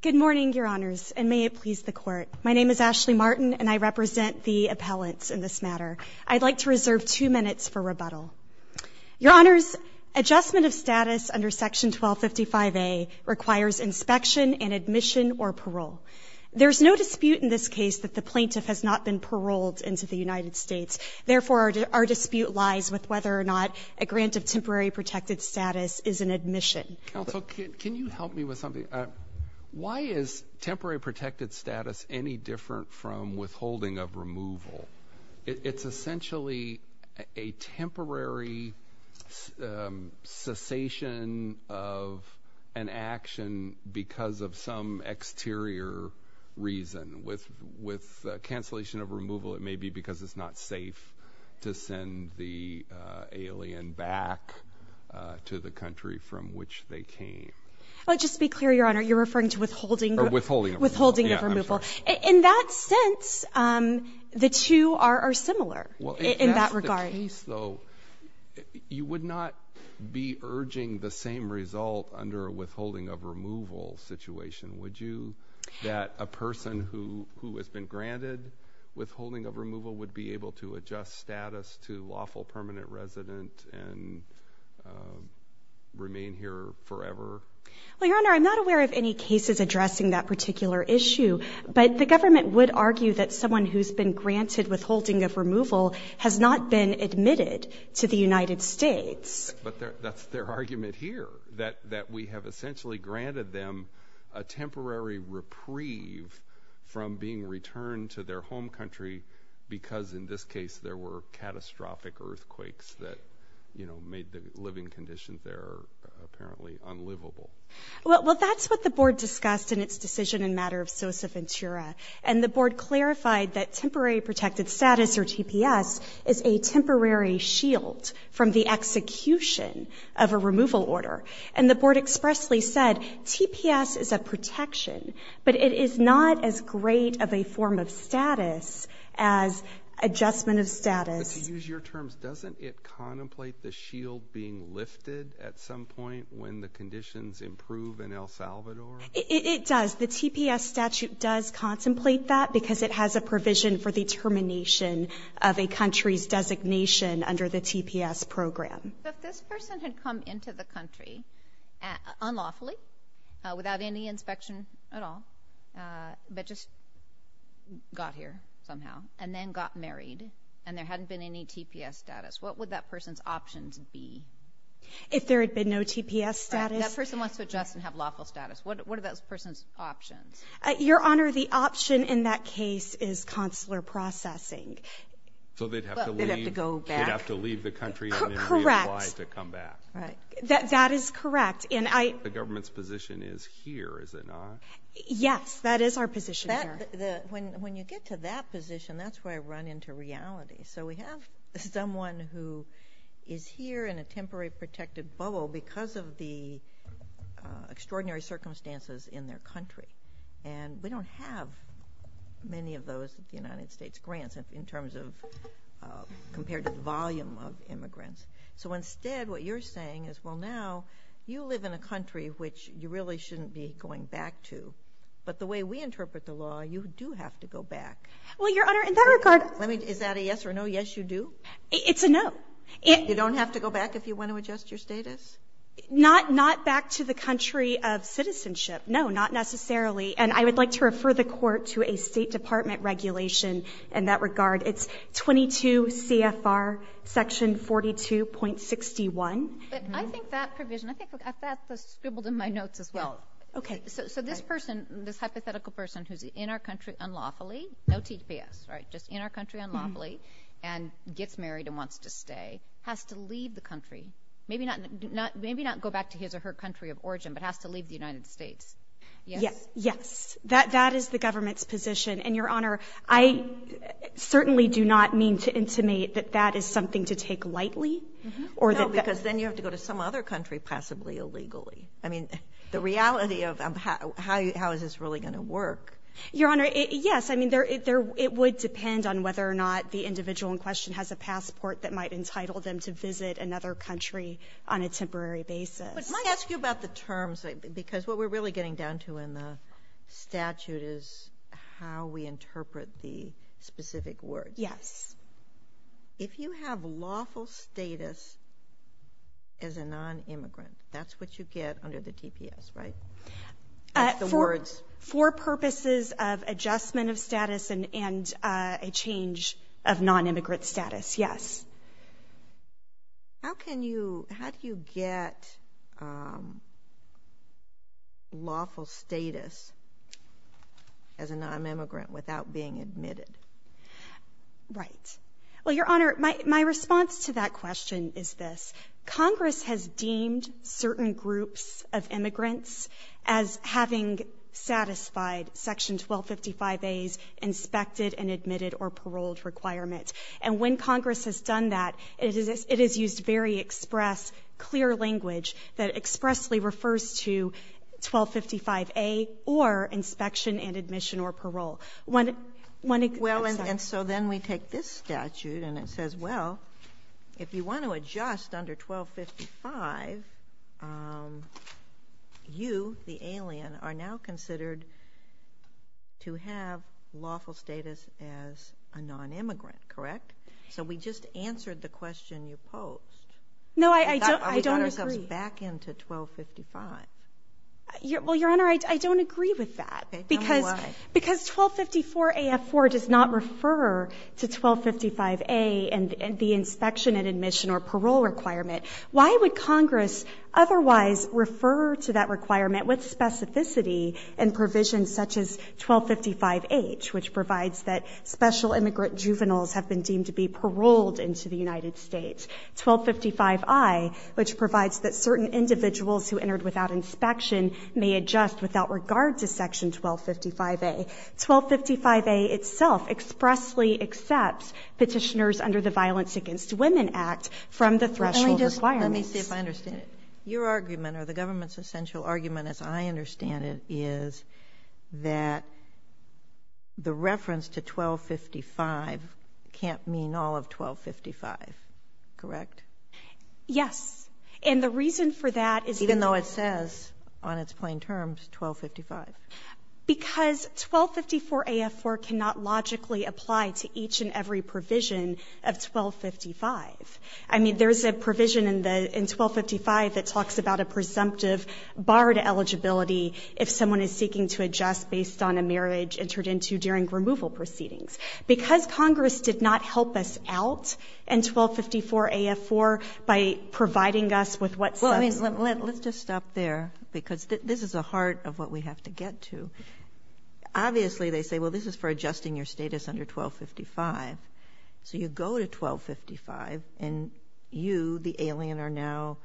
Good morning, Your Honors, and may it please the Court. My name is Ashley Martin, and I represent the appellants in this matter. I'd like to reserve two minutes for rebuttal. Your Honors, adjustment of status under Section 1255A requires inspection and admission or parole. There is no dispute in this case that the plaintiff has not been paroled into the United States. Therefore, our dispute lies with whether or not a grant of temporary protected status is an admission. Counsel, can you help me with something? Why is temporary protected status any different from withholding of removal? It's essentially a temporary cessation of an action because of some exterior reason. With cancellation of removal, it may be because it's not safe to send the alien back to the country from which they came. Just to be clear, Your Honor, you're referring to withholding of removal. In that sense, the two are similar in that regard. In that case, though, you would not be urging the same result under a withholding of removal situation, would you? That a person who has been granted withholding of removal would be able to adjust status to lawful permanent resident and remain here forever? Well, Your Honor, I'm not aware of any cases addressing that particular issue, but the government would argue that someone who's been granted withholding of removal has not been admitted to the United States. But that's their argument here, that we have essentially granted them a temporary reprieve from being returned to their home country because, in this case, there were catastrophic earthquakes that made the living conditions there apparently unlivable. Well, that's what the Board discussed in its decision in matter of Sosa Ventura, and the Board clarified that temporary protected status, or TPS, is a temporary shield from the execution of a removal order. And the Board expressly said TPS is a protection, but it is not as great of a form of status as adjustment of status. But to use your terms, doesn't it contemplate the shield being lifted at some point when the conditions improve in El Salvador? It does. The TPS statute does contemplate that because it has a provision for the termination of a country's designation under the TPS program. If this person had come into the country unlawfully, without any inspection at all, but just got here somehow and then got married and there hadn't been any TPS status, what would that person's options be? If there had been no TPS status. That person wants to adjust and have lawful status. What are that person's options? Your Honor, the option in that case is consular processing. So they'd have to leave the country? Correct. And reapply to come back. That is correct. The government's position is here, is it not? Yes, that is our position here. When you get to that position, that's where I run into reality. So we have someone who is here in a temporary protected bubble because of the extraordinary circumstances in their country. And we don't have many of those United States grants in terms of compared to the volume of immigrants. So instead what you're saying is, well, now you live in a country which you really shouldn't be going back to. But the way we interpret the law, you do have to go back. Well, Your Honor, in that regard. Is that a yes or no? Yes, you do? It's a no. You don't have to go back if you want to adjust your status? Not back to the country of citizenship. No, not necessarily. And I would like to refer the Court to a State Department regulation in that regard. It's 22 CFR Section 42.61. But I think that provision, I think that's scribbled in my notes as well. Okay. So this person, this hypothetical person who's in our country unlawfully, no TPS, right, just in our country unlawfully, and gets married and wants to stay, has to leave the country. Maybe not go back to his or her country of origin, but has to leave the United States. Yes. That is the government's position. And, Your Honor, I certainly do not mean to intimate that that is something to take lightly. No, because then you have to go to some other country, possibly illegally. I mean, the reality of how is this really going to work? Your Honor, yes. I mean, it would depend on whether or not the individual in question has a passport that might entitle them to visit another country on a temporary basis. But can I ask you about the terms, because what we're really getting down to in the statute is how we interpret the specific words. Yes. If you have lawful status as a nonimmigrant, that's what you get under the TPS, right, the words? For purposes of adjustment of status and a change of nonimmigrant status, yes. How do you get lawful status as a nonimmigrant without being admitted? Right. Well, Your Honor, my response to that question is this. Congress has deemed certain groups of immigrants as having satisfied Section 1255A's inspected and admitted or paroled requirements. And when Congress has done that, it has used very express, clear language that expressly refers to 1255A or inspection and admission or parole. Well, and so then we take this statute and it says, well, if you want to adjust under 1255, you, the alien, are now considered to have lawful status as a nonimmigrant, correct? So we just answered the question you posed. No, I don't agree. That goes back into 1255. Well, Your Honor, I don't agree with that. Okay. Tell me why. Because 1254AF4 does not refer to 1255A and the inspection and admission or parole requirement. Why would Congress otherwise refer to that requirement? With specificity and provisions such as 1255H, which provides that special immigrant juveniles have been deemed to be paroled into the United States, 1255I, which provides that certain individuals who entered without inspection may adjust without regard to Section 1255A. 1255A itself expressly accepts Petitioners under the Violence Against Women Act from the threshold requirements. Let me see if I understand it. Your argument or the government's essential argument, as I understand it, is that the reference to 1255 can't mean all of 1255, correct? Yes. And the reason for that is that the ---- Even though it says on its plain terms 1255. Because 1254AF4 cannot logically apply to each and every provision of 1255. I mean, there's a provision in 1255 that talks about a presumptive bar to eligibility if someone is seeking to adjust based on a marriage entered into during removal proceedings. Because Congress did not help us out in 1254AF4 by providing us with what ---- Well, let's just stop there, because this is the heart of what we have to get to. Obviously, they say, well, this is for adjusting your status under 1255. So you go to 1255, and you, the alien, are now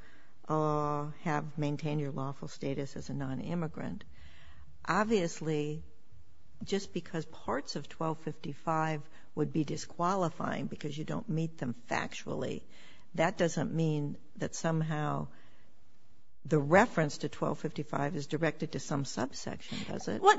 ---- have maintained your lawful status as a nonimmigrant. Obviously, just because parts of 1255 would be disqualifying because you don't meet them factually, that doesn't mean that somehow the reference to 1255 is directed to some subsection, does it? Well,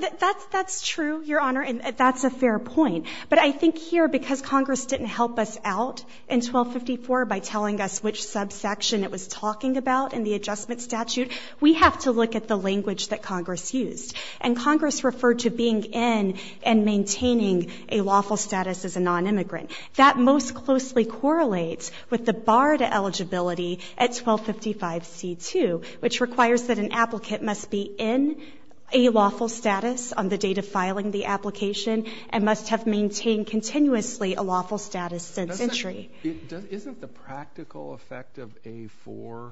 that's true, Your Honor, and that's a fair point. But I think here, because Congress didn't help us out in 1254 by telling us which subsection it was talking about in the adjustment statute, we have to look at the language that Congress used. And Congress referred to being in and maintaining a lawful status as a nonimmigrant. That most closely correlates with the bar to eligibility at 1255C2, which requires that an applicant must be in a lawful status on the date of filing the application and must have maintained continuously a lawful status since entry. Isn't the practical effect of A4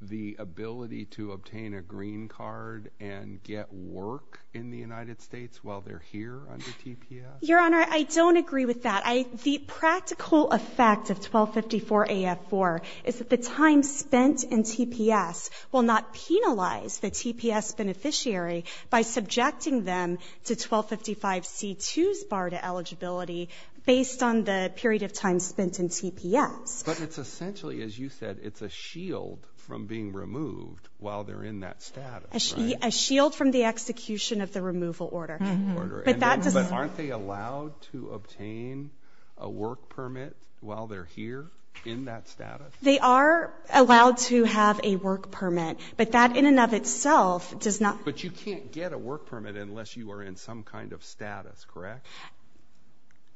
the ability to obtain a green card and get work in the United States while they're here under TPS? Your Honor, I don't agree with that. The practical effect of 1254AF4 is that the time spent in TPS will not penalize the TPS beneficiary by subjecting them to 1255C2's bar to eligibility based on the period of time spent in TPS. But it's essentially, as you said, it's a shield from being removed while they're in that status, right? A shield from the execution of the removal order. But aren't they allowed to obtain a work permit while they're here in that status? They are allowed to have a work permit. But that in and of itself does not... But you can't get a work permit unless you are in some kind of status, correct?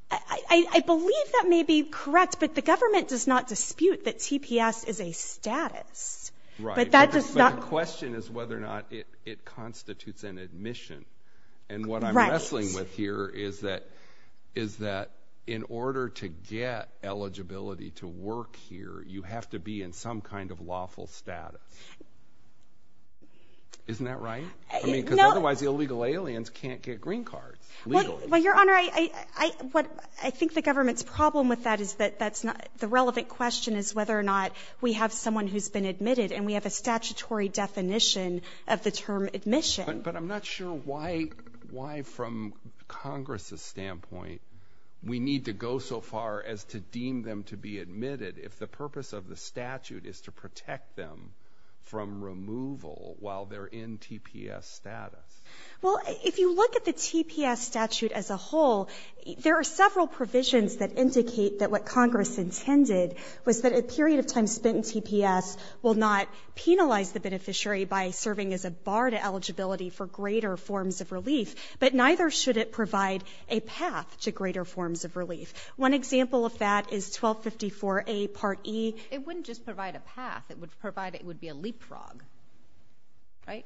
I believe that may be correct. But the government does not dispute that TPS is a status. Right. But the question is whether or not it constitutes an admission. And what I'm wrestling with here is that in order to get eligibility to work here, you have to be in some kind of lawful status. Isn't that right? Because otherwise the illegal aliens can't get green cards legally. Well, Your Honor, I think the government's problem with that is that the relevant question is whether or not we have someone who's been admitted and we have a statutory definition of the term admission. But I'm not sure why from Congress's standpoint we need to go so far as to deem them to be admitted if the purpose of the statute is to protect them from removal while they're in TPS status. Well, if you look at the TPS statute as a whole, there are several provisions that indicate that what Congress intended was that a period of time spent in TPS will not penalize the beneficiary by serving as a bar to eligibility for greater forms of relief, but neither should it provide a path to greater forms of relief. One example of that is 1254A Part E. It wouldn't just provide a path. It would be a leapfrog. Right?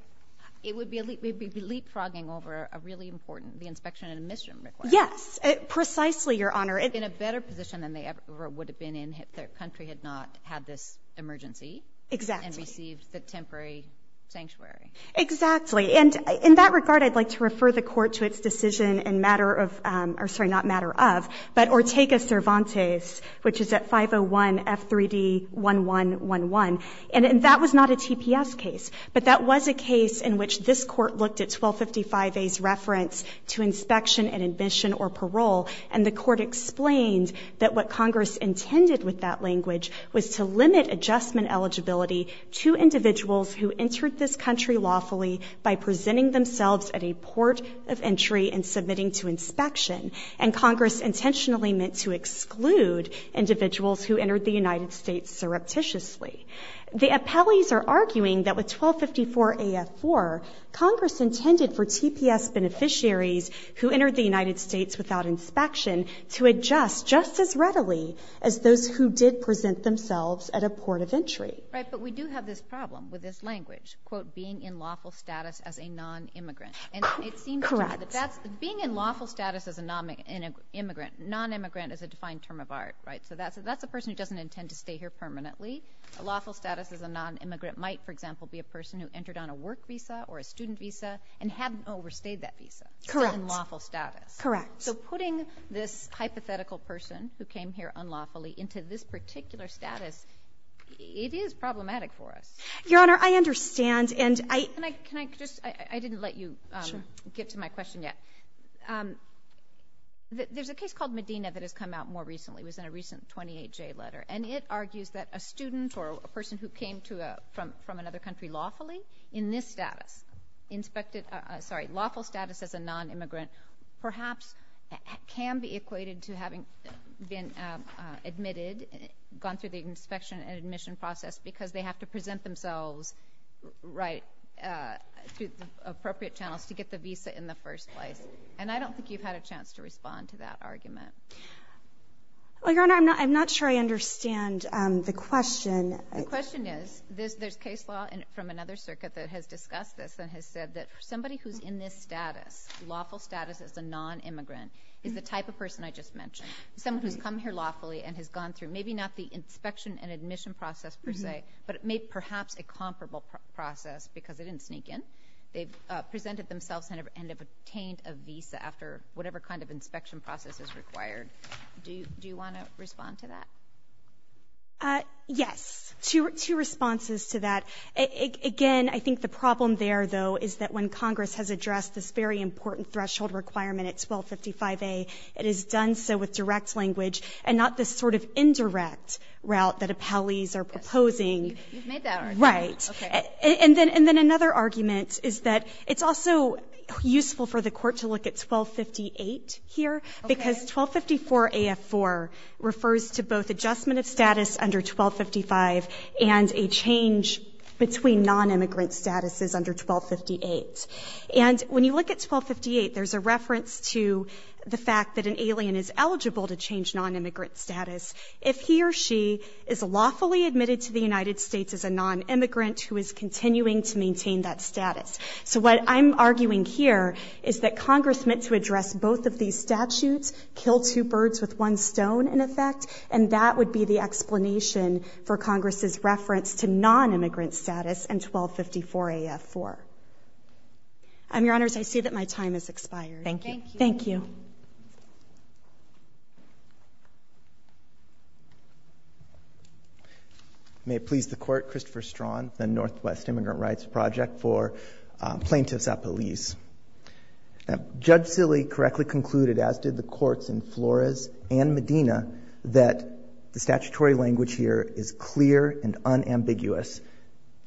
It would be leapfrogging over a really important, the inspection and admission requirement. Yes. Precisely, Your Honor. In a better position than they ever would have been in if their country had not had this emergency. Exactly. And received the temporary sanctuary. Exactly. And in that regard, I'd like to refer the Court to its decision in matter of or, sorry, not matter of, but Ortega-Cervantes, which is at 501 F3D1111. And that was not a TPS case, but that was a case in which this Court looked at 1255A's reference to inspection and admission or parole, and the Court explained that what Congress intended with that language was to limit adjustment eligibility to individuals who entered this country lawfully by presenting themselves at a port of entry and submitting to inspection, and Congress intentionally meant to exclude individuals who entered the United States surreptitiously. The appellees are arguing that with 1254AF4, Congress intended for TPS beneficiaries who entered the United States without inspection to adjust just as readily as those who did present themselves at a port of entry. Right. But we do have this problem with this language, quote, being in lawful status as a nonimmigrant. Correct. And it seems to me that being in lawful status as a nonimmigrant is a defined term of art, right? So that's a person who doesn't intend to stay here permanently. A lawful status as a nonimmigrant might, for example, be a person who entered on a work visa or a student visa and hadn't overstayed that visa. Correct. In lawful status. Correct. So putting this hypothetical person who came here unlawfully into this particular status, it is problematic for us. Your Honor, I understand, and I — Can I just — I didn't let you get to my question yet. Sure. There's a case called Medina that has come out more recently. It was in a recent 28J letter. And it argues that a student or a person who came from another country lawfully, in this status, inspected — sorry, lawful status as a nonimmigrant, perhaps can be equated to having been admitted, gone through the inspection and admission process, because they have to present themselves, right, through the appropriate channels to get the visa in the first place. And I don't think you've had a chance to respond to that argument. Your Honor, I'm not sure I understand the question. The question is, there's case law from another circuit that has discussed this and has said that somebody who's in this status, lawful status as a nonimmigrant, is the type of person I just mentioned, someone who's come here lawfully and has gone through maybe not the inspection and admission process per se, but made perhaps a comparable process because they didn't sneak in. They've presented themselves and have obtained a visa after whatever kind of inspection process is required. Do you want to respond to that? Yes. Two responses to that. Again, I think the problem there, though, is that when Congress has addressed this very important threshold requirement at 1255a, it has done so with direct language and not this sort of indirect route that appellees are proposing. You've made that argument. Right. And then another argument is that it's also useful for the Court to look at 1258 here, because 1254a of 4 refers to both adjustment of status under 1255 and a change between nonimmigrant statuses under 1258. And when you look at 1258, there's a reference to the fact that an alien is eligible to change nonimmigrant status if he or she is lawfully admitted to the United States as a nonimmigrant who is continuing to maintain that status. So what I'm arguing here is that Congress meant to address both of these statutes, kill two birds with one stone, in effect, and that would be the explanation for Congress' reference to nonimmigrant status and 1254a of 4. Your Honors, I see that my time has expired. Thank you. Thank you. May it please the Court, Christopher Straughan, the Northwest Immigrant Rights Project for Plaintiffs Appellees. Judge Silley correctly concluded, as did the courts in Flores and Medina, that the statutory language here is clear and unambiguous.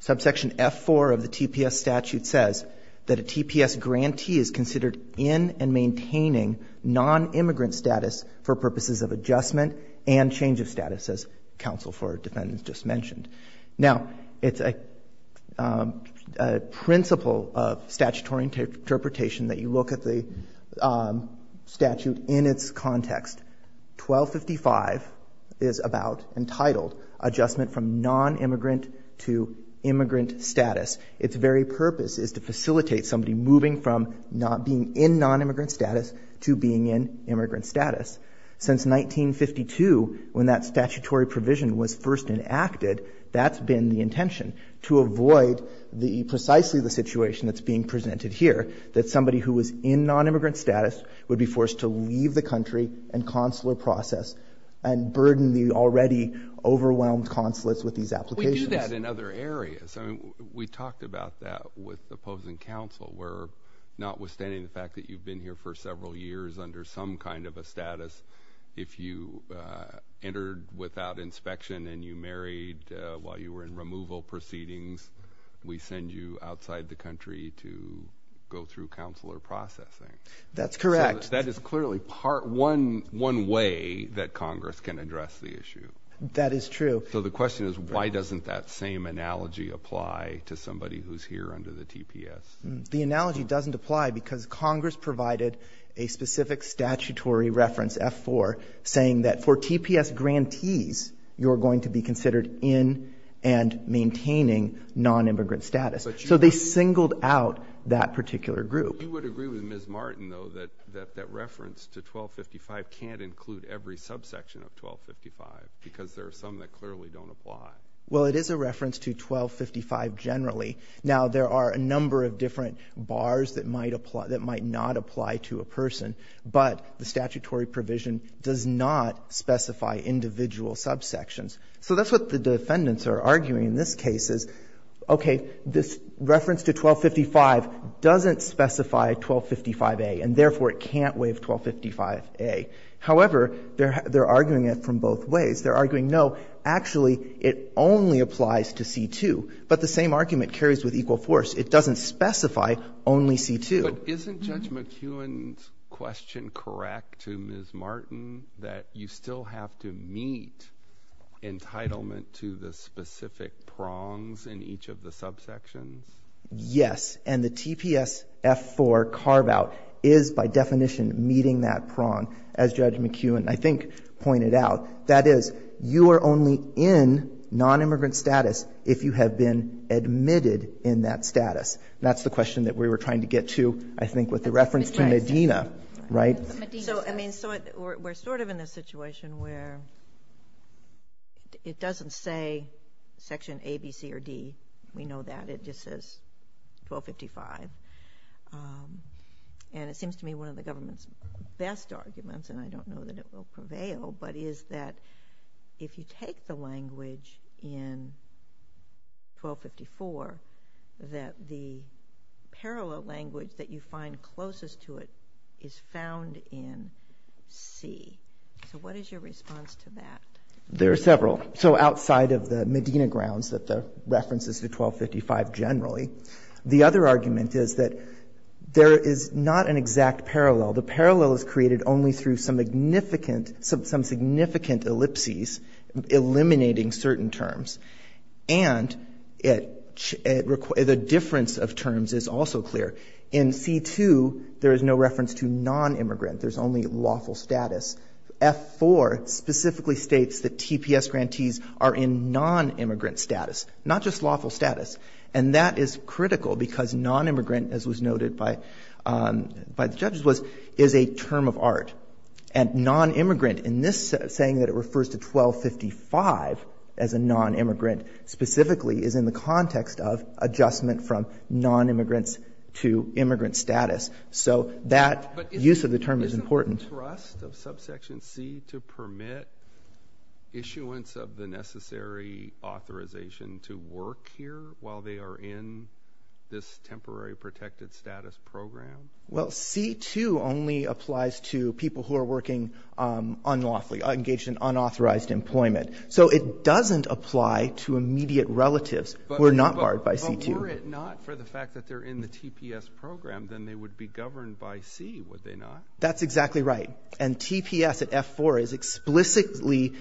Subsection F4 of the TPS statute says that a TPS grantee is considered in and maintaining nonimmigrant status for purposes of adjustment and change of status, as counsel for defendants just mentioned. Now, it's a principle of statutory interpretation that you look at the statute in its context. 1255 is about, entitled, adjustment from nonimmigrant to immigrant status. Its very purpose is to facilitate somebody moving from not being in nonimmigrant status to being in immigrant status. Since 1952, when that statutory provision was first enacted, that's been the intention to avoid precisely the situation that's being presented here, that somebody who was in nonimmigrant status would be forced to leave the country and consular process and burden the already overwhelmed consulates with these applications. We do that in other areas. I mean, we talked about that with opposing counsel, where notwithstanding the fact that you've been here for several years under some kind of a status, if you entered without inspection and you married while you were in removal proceedings, we send you outside the country to go through consular processing. That's correct. That is clearly part one way that Congress can address the issue. That is true. So the question is, why doesn't that same analogy apply to somebody who's here under the TPS? The analogy doesn't apply because Congress provided a specific statutory reference, F4, saying that for TPS grantees, you're going to be considered in and maintaining nonimmigrant status. So they singled out that particular group. You would agree with Ms. Martin, though, that that reference to 1255 can't include every subsection of 1255 because there are some that clearly don't apply. Well, it is a reference to 1255 generally. Now, there are a number of different bars that might not apply to a person, but the statutory provision does not specify individual subsections. So that's what the defendants are arguing in this case is, okay, this reference to 1255 doesn't specify 1255a, and therefore it can't waive 1255a. However, they're arguing it from both ways. They're arguing, no, actually it only applies to C2, but the same argument carries with equal force. It doesn't specify only C2. But isn't Judge McEwen's question correct to Ms. Martin that you still have to meet entitlement to the specific prongs in each of the subsections? Yes. And the TPS F4 carve-out is by definition meeting that prong, as Judge McEwen, I think, pointed out. That is, you are only in nonimmigrant status if you have been admitted in that status. That's the question that we were trying to get to, I think, with the reference to Medina, right? So, I mean, we're sort of in a situation where it doesn't say section A, B, C, or D. We know that. It just says 1255. And it seems to me one of the government's best arguments, and I don't know that it is, is that if you take the language in 1254, that the parallel language that you find closest to it is found in C. So what is your response to that? There are several. So outside of the Medina grounds that the reference is to 1255 generally, the other argument is that there is not an exact parallel. The parallel is created only through some significant ellipses eliminating certain terms. And the difference of terms is also clear. In C.2, there is no reference to nonimmigrant. There is only lawful status. F.4 specifically states that TPS grantees are in nonimmigrant status, not just lawful status. And that is critical because nonimmigrant, as was noted by the judges, is a term of art. And nonimmigrant in this saying that it refers to 1255 as a nonimmigrant specifically is in the context of adjustment from nonimmigrants to immigrant status. So that use of the term is important. Isn't the trust of subsection C to permit issuance of the necessary authorization to work here while they are in this temporary protected status program? Well, C.2 only applies to people who are working unlawfully, engaged in unauthorized employment. So it doesn't apply to immediate relatives who are not barred by C.2. But were it not for the fact that they're in the TPS program, then they would be governed by C, would they not? That's exactly right. And TPS at F-4 is explicitly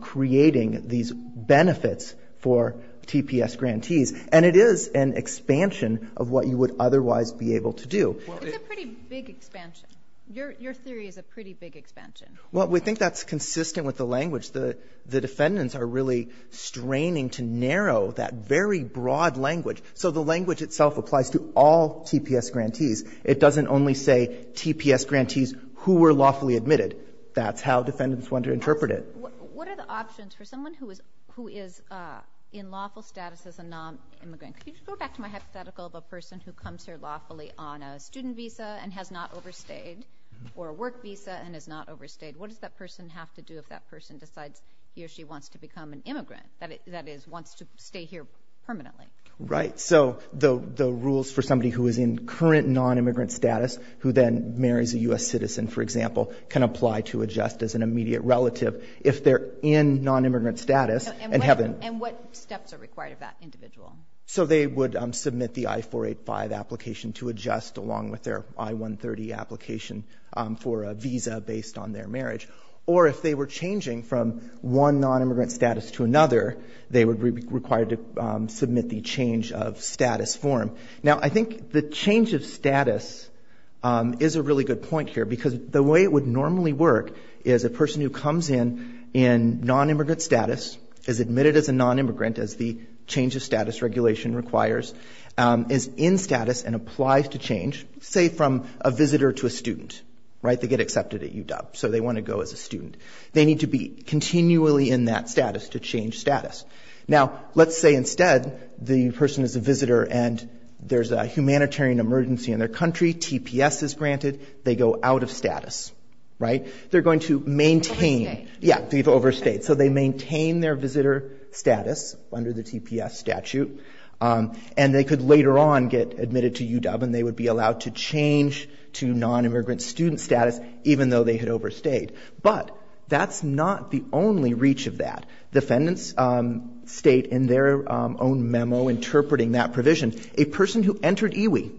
creating these benefits for TPS grantees. And it is an expansion of what you would otherwise be able to do. It's a pretty big expansion. Your theory is a pretty big expansion. Well, we think that's consistent with the language. The defendants are really straining to narrow that very broad language. So the language itself applies to all TPS grantees. It doesn't only say TPS grantees who were lawfully admitted. That's how defendants want to interpret it. What are the options for someone who is in lawful status as a nonimmigrant? Could you just go back to my hypothetical of a person who comes here lawfully on a student visa and has not overstayed or a work visa and has not overstayed? What does that person have to do if that person decides he or she wants to become an immigrant, that is, wants to stay here permanently? Right. So the rules for somebody who is in current nonimmigrant status who then marries a U.S. citizen, for example, can apply to adjust as an immediate relative if they're in nonimmigrant status. And what steps are required of that individual? So they would submit the I-485 application to adjust along with their I-130 application for a visa based on their marriage. Or if they were changing from one nonimmigrant status to another, they would be required to submit the change of status form. Now, I think the change of status is a really good point here because the way it would normally work is a person who comes in in nonimmigrant status, is admitted as a nonimmigrant as the change of status regulation requires, is in status and applies to change, say, from a visitor to a student. Right. They get accepted at UW, so they want to go as a student. They need to be continually in that status to change status. Now, let's say instead the person is a visitor and there's a humanitarian emergency in their country. TPS is granted. They go out of status. Right. They're going to maintain. They've overstayed. Yeah, they've overstayed. So they maintain their visitor status under the TPS statute, and they could later on get admitted to UW, and they would be allowed to change to nonimmigrant student status even though they had overstayed. But that's not the only reach of that. Defendants state in their own memo interpreting that provision. A person who entered EWI,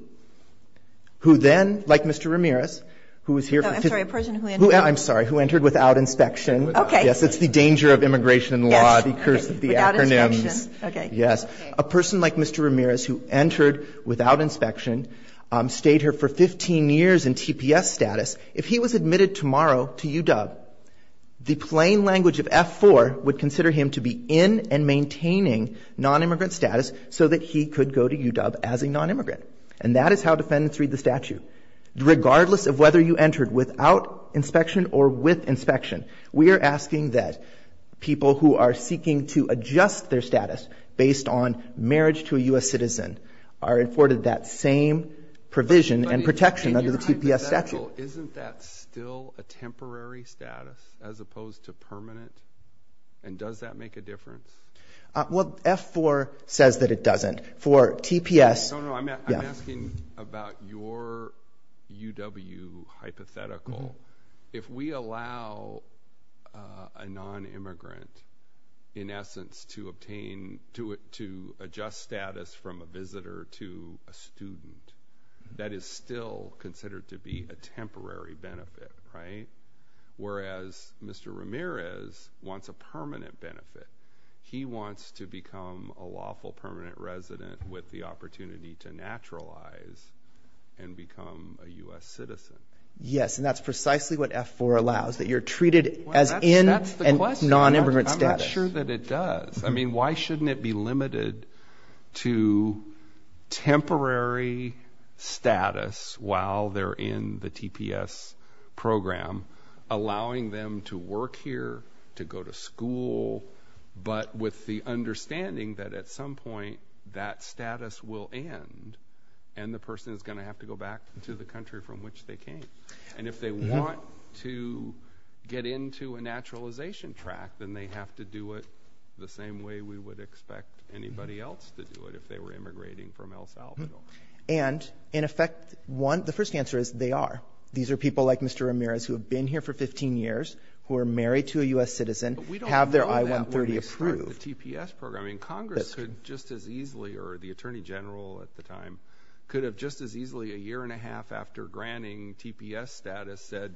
who then, like Mr. Ramirez, who was here for 15 years. I'm sorry. A person who entered without inspection. Okay. Yes. It's the danger of immigration law, the curse of the acronyms. Without inspection. Okay. Yes. A person like Mr. Ramirez who entered without inspection, stayed here for 15 years in TPS status. If he was admitted tomorrow to UW, the plain language of F-4 would consider him to be in and maintaining nonimmigrant status so that he could go to UW as a nonimmigrant. And that is how defendants read the statute. Regardless of whether you entered without inspection or with inspection, we are asking that people who are seeking to adjust their status based on marriage to a U.S. citizen are afforded that same provision and protection under the TPS statute. So isn't that still a temporary status as opposed to permanent? And does that make a difference? Well, F-4 says that it doesn't. For TPS – No, no. I'm asking about your UW hypothetical. If we allow a nonimmigrant, in essence, to adjust status from a visitor to a student, that is still considered to be a temporary benefit, right? Whereas Mr. Ramirez wants a permanent benefit. He wants to become a lawful permanent resident with the opportunity to naturalize and become a U.S. citizen. Yes, and that's precisely what F-4 allows, that you're treated as in and nonimmigrant status. I'm not sure that it does. I mean, why shouldn't it be limited to temporary status while they're in the TPS program, allowing them to work here, to go to school, but with the understanding that at some point that status will end and the person is going to have to go back to the country from which they came. And if they want to get into a naturalization track, then they have to do it the same way we would expect anybody else to do it if they were immigrating from El Salvador. And, in effect, the first answer is they are. These are people like Mr. Ramirez who have been here for 15 years, who are married to a U.S. citizen, have their I-130 approved. But we don't know that when they start the TPS program. I mean, Congress could just as easily, or the Attorney General at the time, could have just as easily a year and a half after granting TPS status said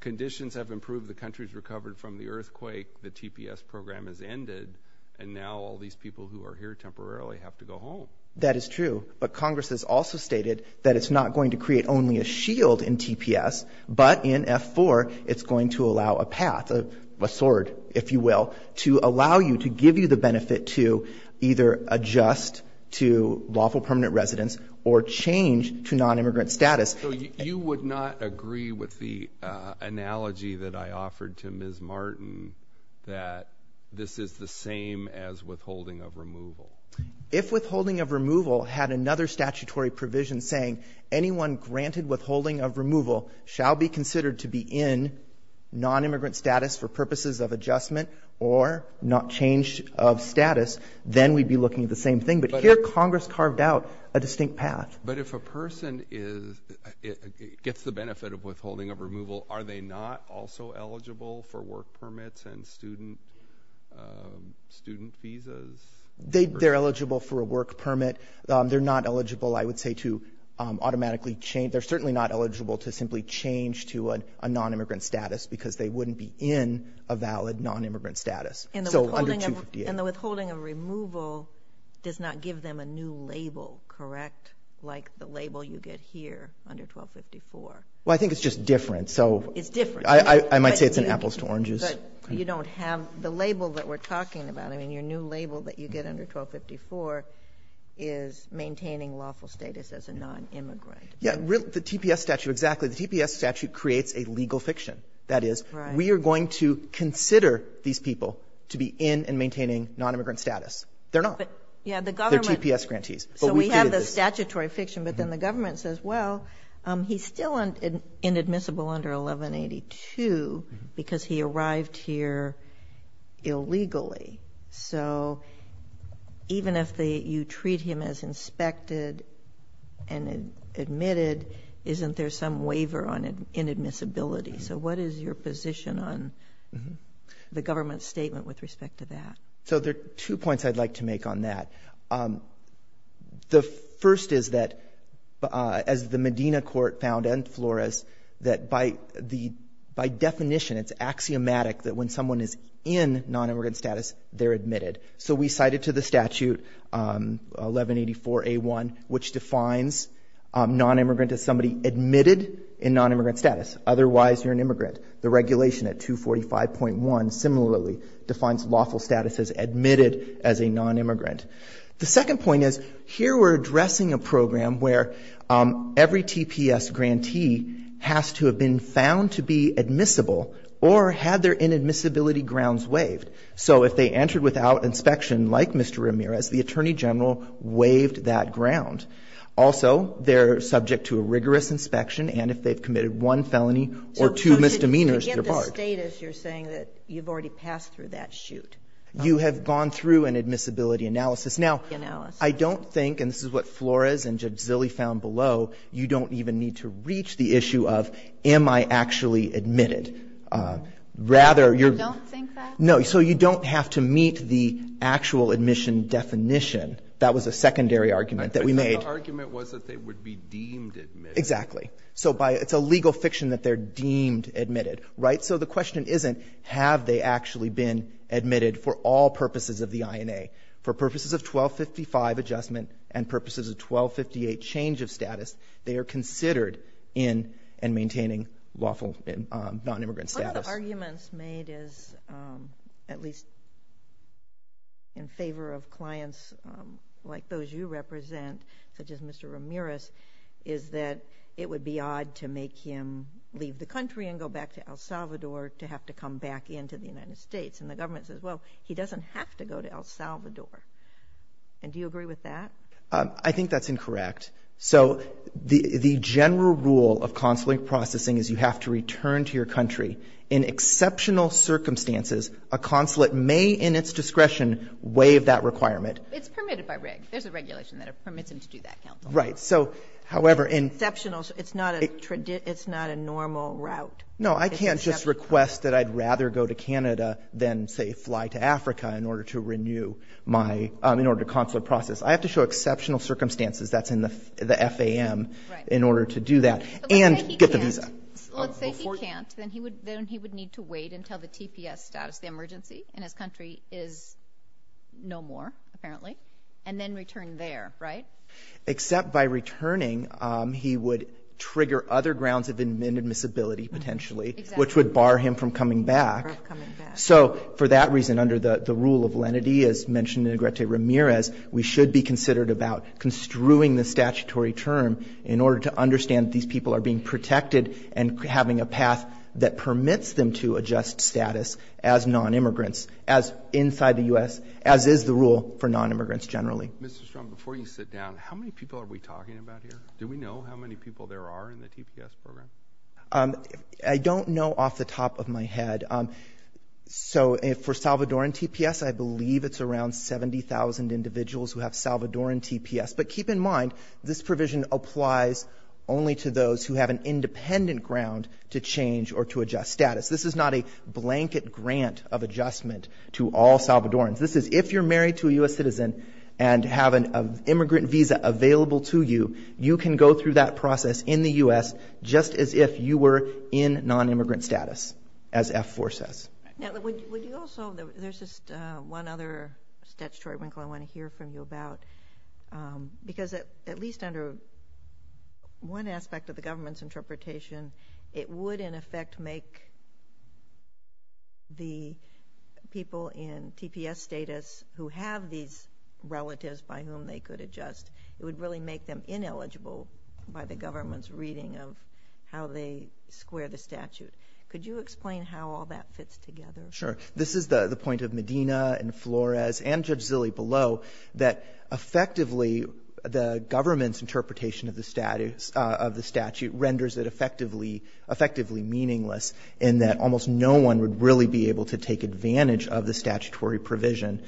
conditions have improved, the country's recovered from the earthquake, the TPS program has ended, and now all these people who are here temporarily have to go home. That is true. But Congress has also stated that it's not going to create only a shield in TPS, but in F-4 it's going to allow a path, a sword, if you will, to allow you to give you the benefit to either adjust to lawful permanent residence or change to nonimmigrant status. So you would not agree with the analogy that I offered to Ms. Martin that this is the same as withholding of removal? If withholding of removal had another statutory provision saying anyone granted withholding of removal shall be considered to be in nonimmigrant status for purposes of adjustment or not change of status, then we'd be looking at the same thing. But here Congress carved out a distinct path. But if a person gets the benefit of withholding of removal, are they not also eligible for work permits and student visas? They're eligible for a work permit. They're not eligible, I would say, to automatically change. They're certainly not eligible to simply change to a nonimmigrant status because they wouldn't be in a valid nonimmigrant status. So under 258. And the withholding of removal does not give them a new label, correct, like the label you get here under 1254? Well, I think it's just different. It's different. I might say it's an apples to oranges. But you don't have the label that we're talking about. I mean, your new label that you get under 1254 is maintaining lawful status as a nonimmigrant. Yes. The TPS statute, exactly. The TPS statute creates a legal fiction. That is, we are going to consider these people. To be in and maintaining nonimmigrant status. They're not. They're TPS grantees. So we have the statutory fiction, but then the government says, well, he's still inadmissible under 1182 because he arrived here illegally. So even if you treat him as inspected and admitted, isn't there some waiver on inadmissibility? So what is your position on the government's statement with respect to that? So there are two points I'd like to make on that. The first is that, as the Medina court found and Flores, that by definition it's axiomatic that when someone is in nonimmigrant status, they're admitted. So we cited to the statute 1184A1, which defines nonimmigrant as somebody admitted in nonimmigrant status. Otherwise, you're an immigrant. The regulation at 245.1 similarly defines lawful status as admitted as a nonimmigrant. The second point is, here we're addressing a program where every TPS grantee has to have been found to be admissible or had their inadmissibility grounds waived. So if they entered without inspection, like Mr. Ramirez, the attorney general waived that ground. Also, they're subject to a rigorous inspection, and if they've committed one felony or two misdemeanors, they're barred. So to get the status, you're saying that you've already passed through that chute. You have gone through an admissibility analysis. Now, I don't think, and this is what Flores and Jadzili found below, you don't even need to reach the issue of am I actually admitted. Rather, you're going to meet the actual admission definition. That was a secondary argument that we made. The argument was that they would be deemed admitted. Exactly. So it's a legal fiction that they're deemed admitted. So the question isn't have they actually been admitted for all purposes of the INA. For purposes of 1255 adjustment and purposes of 1258 change of status, they are considered in and maintaining lawful nonimmigrant status. One of the arguments made is, at least in favor of clients like those you represent, such as Mr. Ramirez, is that it would be odd to make him leave the country and go back to El Salvador to have to come back into the United States. And the government says, well, he doesn't have to go to El Salvador. And do you agree with that? I think that's incorrect. So the general rule of consulate processing is you have to return to your country. In exceptional circumstances, a consulate may in its discretion waive that requirement. It's permitted by RIG. There's a regulation that permits him to do that, counsel. Right. Exceptional. It's not a normal route. No, I can't just request that I'd rather go to Canada than, say, fly to Africa in order to renew my ‑‑ in order to consulate process. I have to show exceptional circumstances. That's in the FAM in order to do that and get the visa. Let's say he can't. Then he would need to wait until the TPS status, the emergency in his country is no more, apparently, and then return there, right? Except by returning, he would trigger other grounds of inadmissibility, potentially, which would bar him from coming back. So for that reason, under the rule of lenity, as mentioned in Negrete Ramirez, we should be considered about construing the statutory term in order to understand that these people are being protected and having a path that permits them to adjust status as nonimmigrants, as inside the U.S., as is the rule for nonimmigrants generally. Mr. Strong, before you sit down, how many people are we talking about here? Do we know how many people there are in the TPS program? I don't know off the top of my head. So for Salvadoran TPS, I believe it's around 70,000 individuals who have Salvadoran TPS. But keep in mind, this provision applies only to those who have an independent ground to change or to adjust status. This is not a blanket grant of adjustment to all Salvadorans. This is if you're married to a U.S. citizen and have an immigrant visa available to you, you can go through that process in the U.S. just as if you were in nonimmigrant status, as F4 says. Now, would you also, there's just one other statutory wrinkle I want to hear from you about, because at least under one aspect of the government's interpretation, it would, in effect, make the people in TPS status who have these relatives by whom they could adjust, it would really make them ineligible by the government's reading of how they square the statute. Could you explain how all that fits together? Sure. This is the point of Medina and Flores and Judge Zille below, that effectively the government's interpretation of the statute renders it effectively meaningless in that almost no one would really be able to take advantage of the statutory provision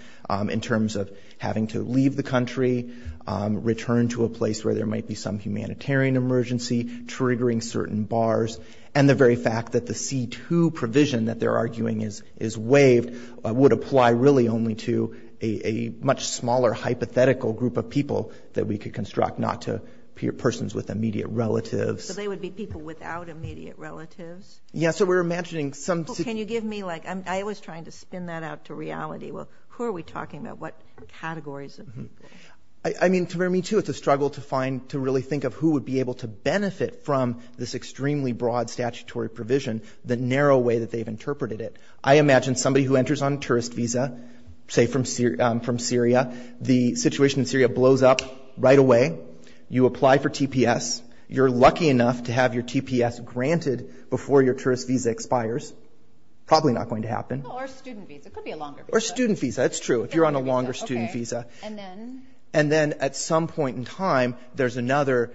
in terms of having to leave the country, return to a place where there might be some humanitarian emergency triggering certain bars, and the very fact that the C-2 provision that they're arguing is waived would apply really only to a much smaller hypothetical group of people that we could construct, not to persons with immediate relatives. So they would be people without immediate relatives? Yes. So we're imagining some... Well, can you give me, like, I'm always trying to spin that out to reality. Well, who are we talking about? What categories of people? I mean, to me, too, it's a struggle to find, to really think of who would be able to benefit from this extremely broad statutory provision, the narrow way that they've interpreted it. I imagine somebody who enters on a tourist visa, say, from Syria. The situation in Syria blows up right away. You apply for TPS. You're lucky enough to have your TPS granted before your tourist visa expires. Probably not going to happen. Or a student visa. It could be a longer visa. Or a student visa. That's true. If you're on a longer student visa. And then? And then at some point in time, there's another...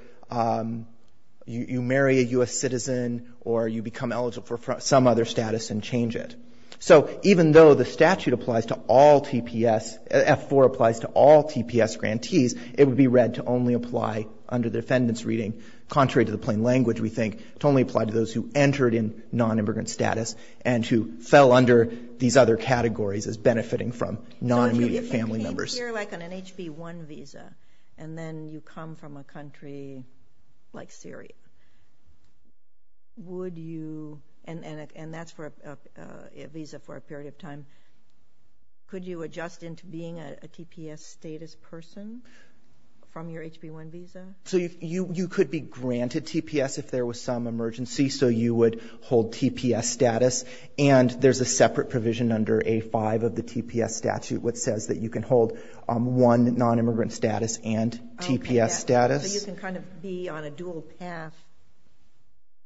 You marry a U.S. citizen, or you become eligible for some other status and change it. So even though the statute applies to all TPS, F4 applies to all TPS grantees, it would be read to only apply under the defendant's reading, contrary to the plain language we think, to only apply to those who entered in non-immigrant status and who fell under these other categories as benefiting from non-immigrant family members. If you're on an HB1 visa, and then you come from a country like Syria, would you... And that's for a visa for a period of time. Could you adjust into being a TPS status person from your HB1 visa? You could be granted TPS if there was some emergency. So you would hold TPS status. And there's a separate provision under A5 of the TPS statute which says that you can hold one non-immigrant status and TPS status. Okay. So you can kind of be on a dual path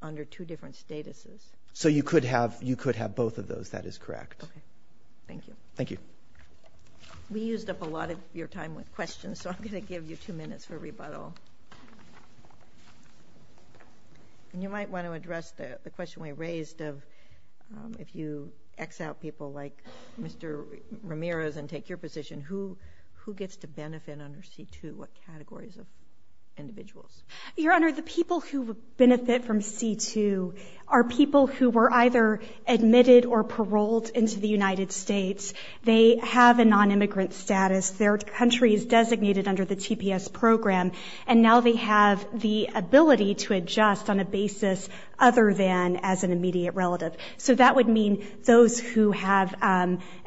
under two different statuses. So you could have both of those. That is correct. Okay. Thank you. Thank you. We used up a lot of your time with questions, so I'm going to give you two minutes for rebuttal. And you might want to address the question we raised of if you X out people like Mr. Ramirez and take your position, who gets to benefit under C2? What categories of individuals? Your Honor, the people who benefit from C2 are people who were either admitted or paroled into the United States. They have a non-immigrant status. Their country is designated under the TPS program. And now they have the ability to adjust on a basis other than as an immediate relative. So that would mean those who have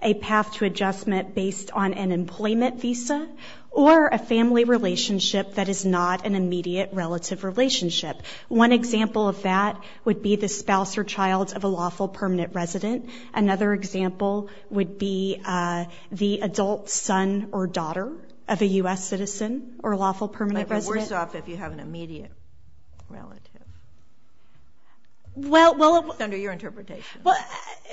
a path to adjustment based on an employment visa or a family relationship that is not an immediate relative relationship. One example of that would be the spouse or child of a lawful permanent resident. Another example would be the adult son or daughter of a U.S. citizen or a lawful permanent resident. But you're worse off if you have an immediate relative. Well, well, it would. Under your interpretation. Well,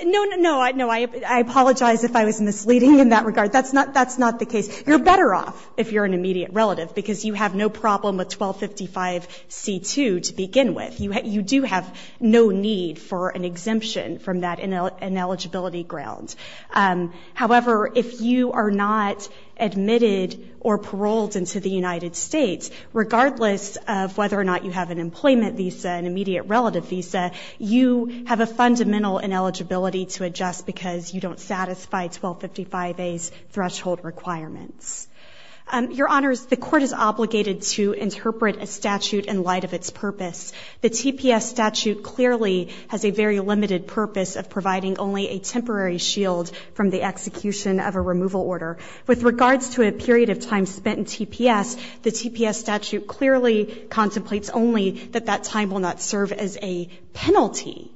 no, no, no. No, I apologize if I was misleading in that regard. That's not the case. You're better off if you're an immediate relative because you have no problem with 1255C2 to begin with. You do have no need for an exemption from that ineligibility ground. However, if you are not admitted or paroled into the United States, regardless of whether or not you have an employment visa, an immediate relative visa, you have a fundamental ineligibility to adjust because you don't satisfy 1255A's threshold requirements. Your Honors, the Court is obligated to interpret a statute in light of its purpose. The TPS statute clearly has a very limited purpose of providing only a temporary shield from the execution of a removal order. With regards to a period of time spent in TPS, the TPS statute clearly contemplates only that that time will not serve as a penalty,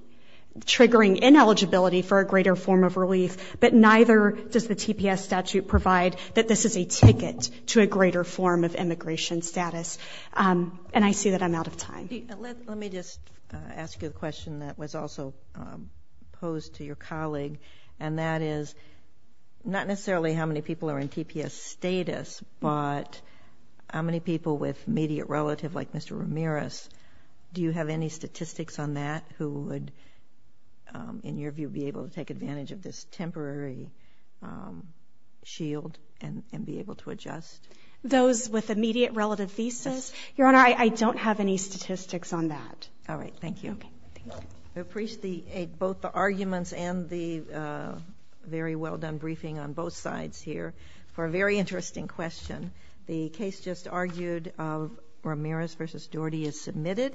triggering ineligibility for a greater form of relief. But neither does the TPS statute provide that this is a ticket to a greater form of immigration status, and I see that I'm out of time. Let me just ask you a question that was also posed to your colleague, and that is not necessarily how many people are in TPS status, but how many people with immediate relative, like Mr. Ramirez, do you have any statistics on that who would, in your view, be able to take a temporary shield and be able to adjust? Those with immediate relative visas? Yes. Your Honor, I don't have any statistics on that. All right, thank you. Okay, thank you. I appreciate both the arguments and the very well-done briefing on both sides here for a very interesting question. The case just argued of Ramirez v. Doherty is submitted.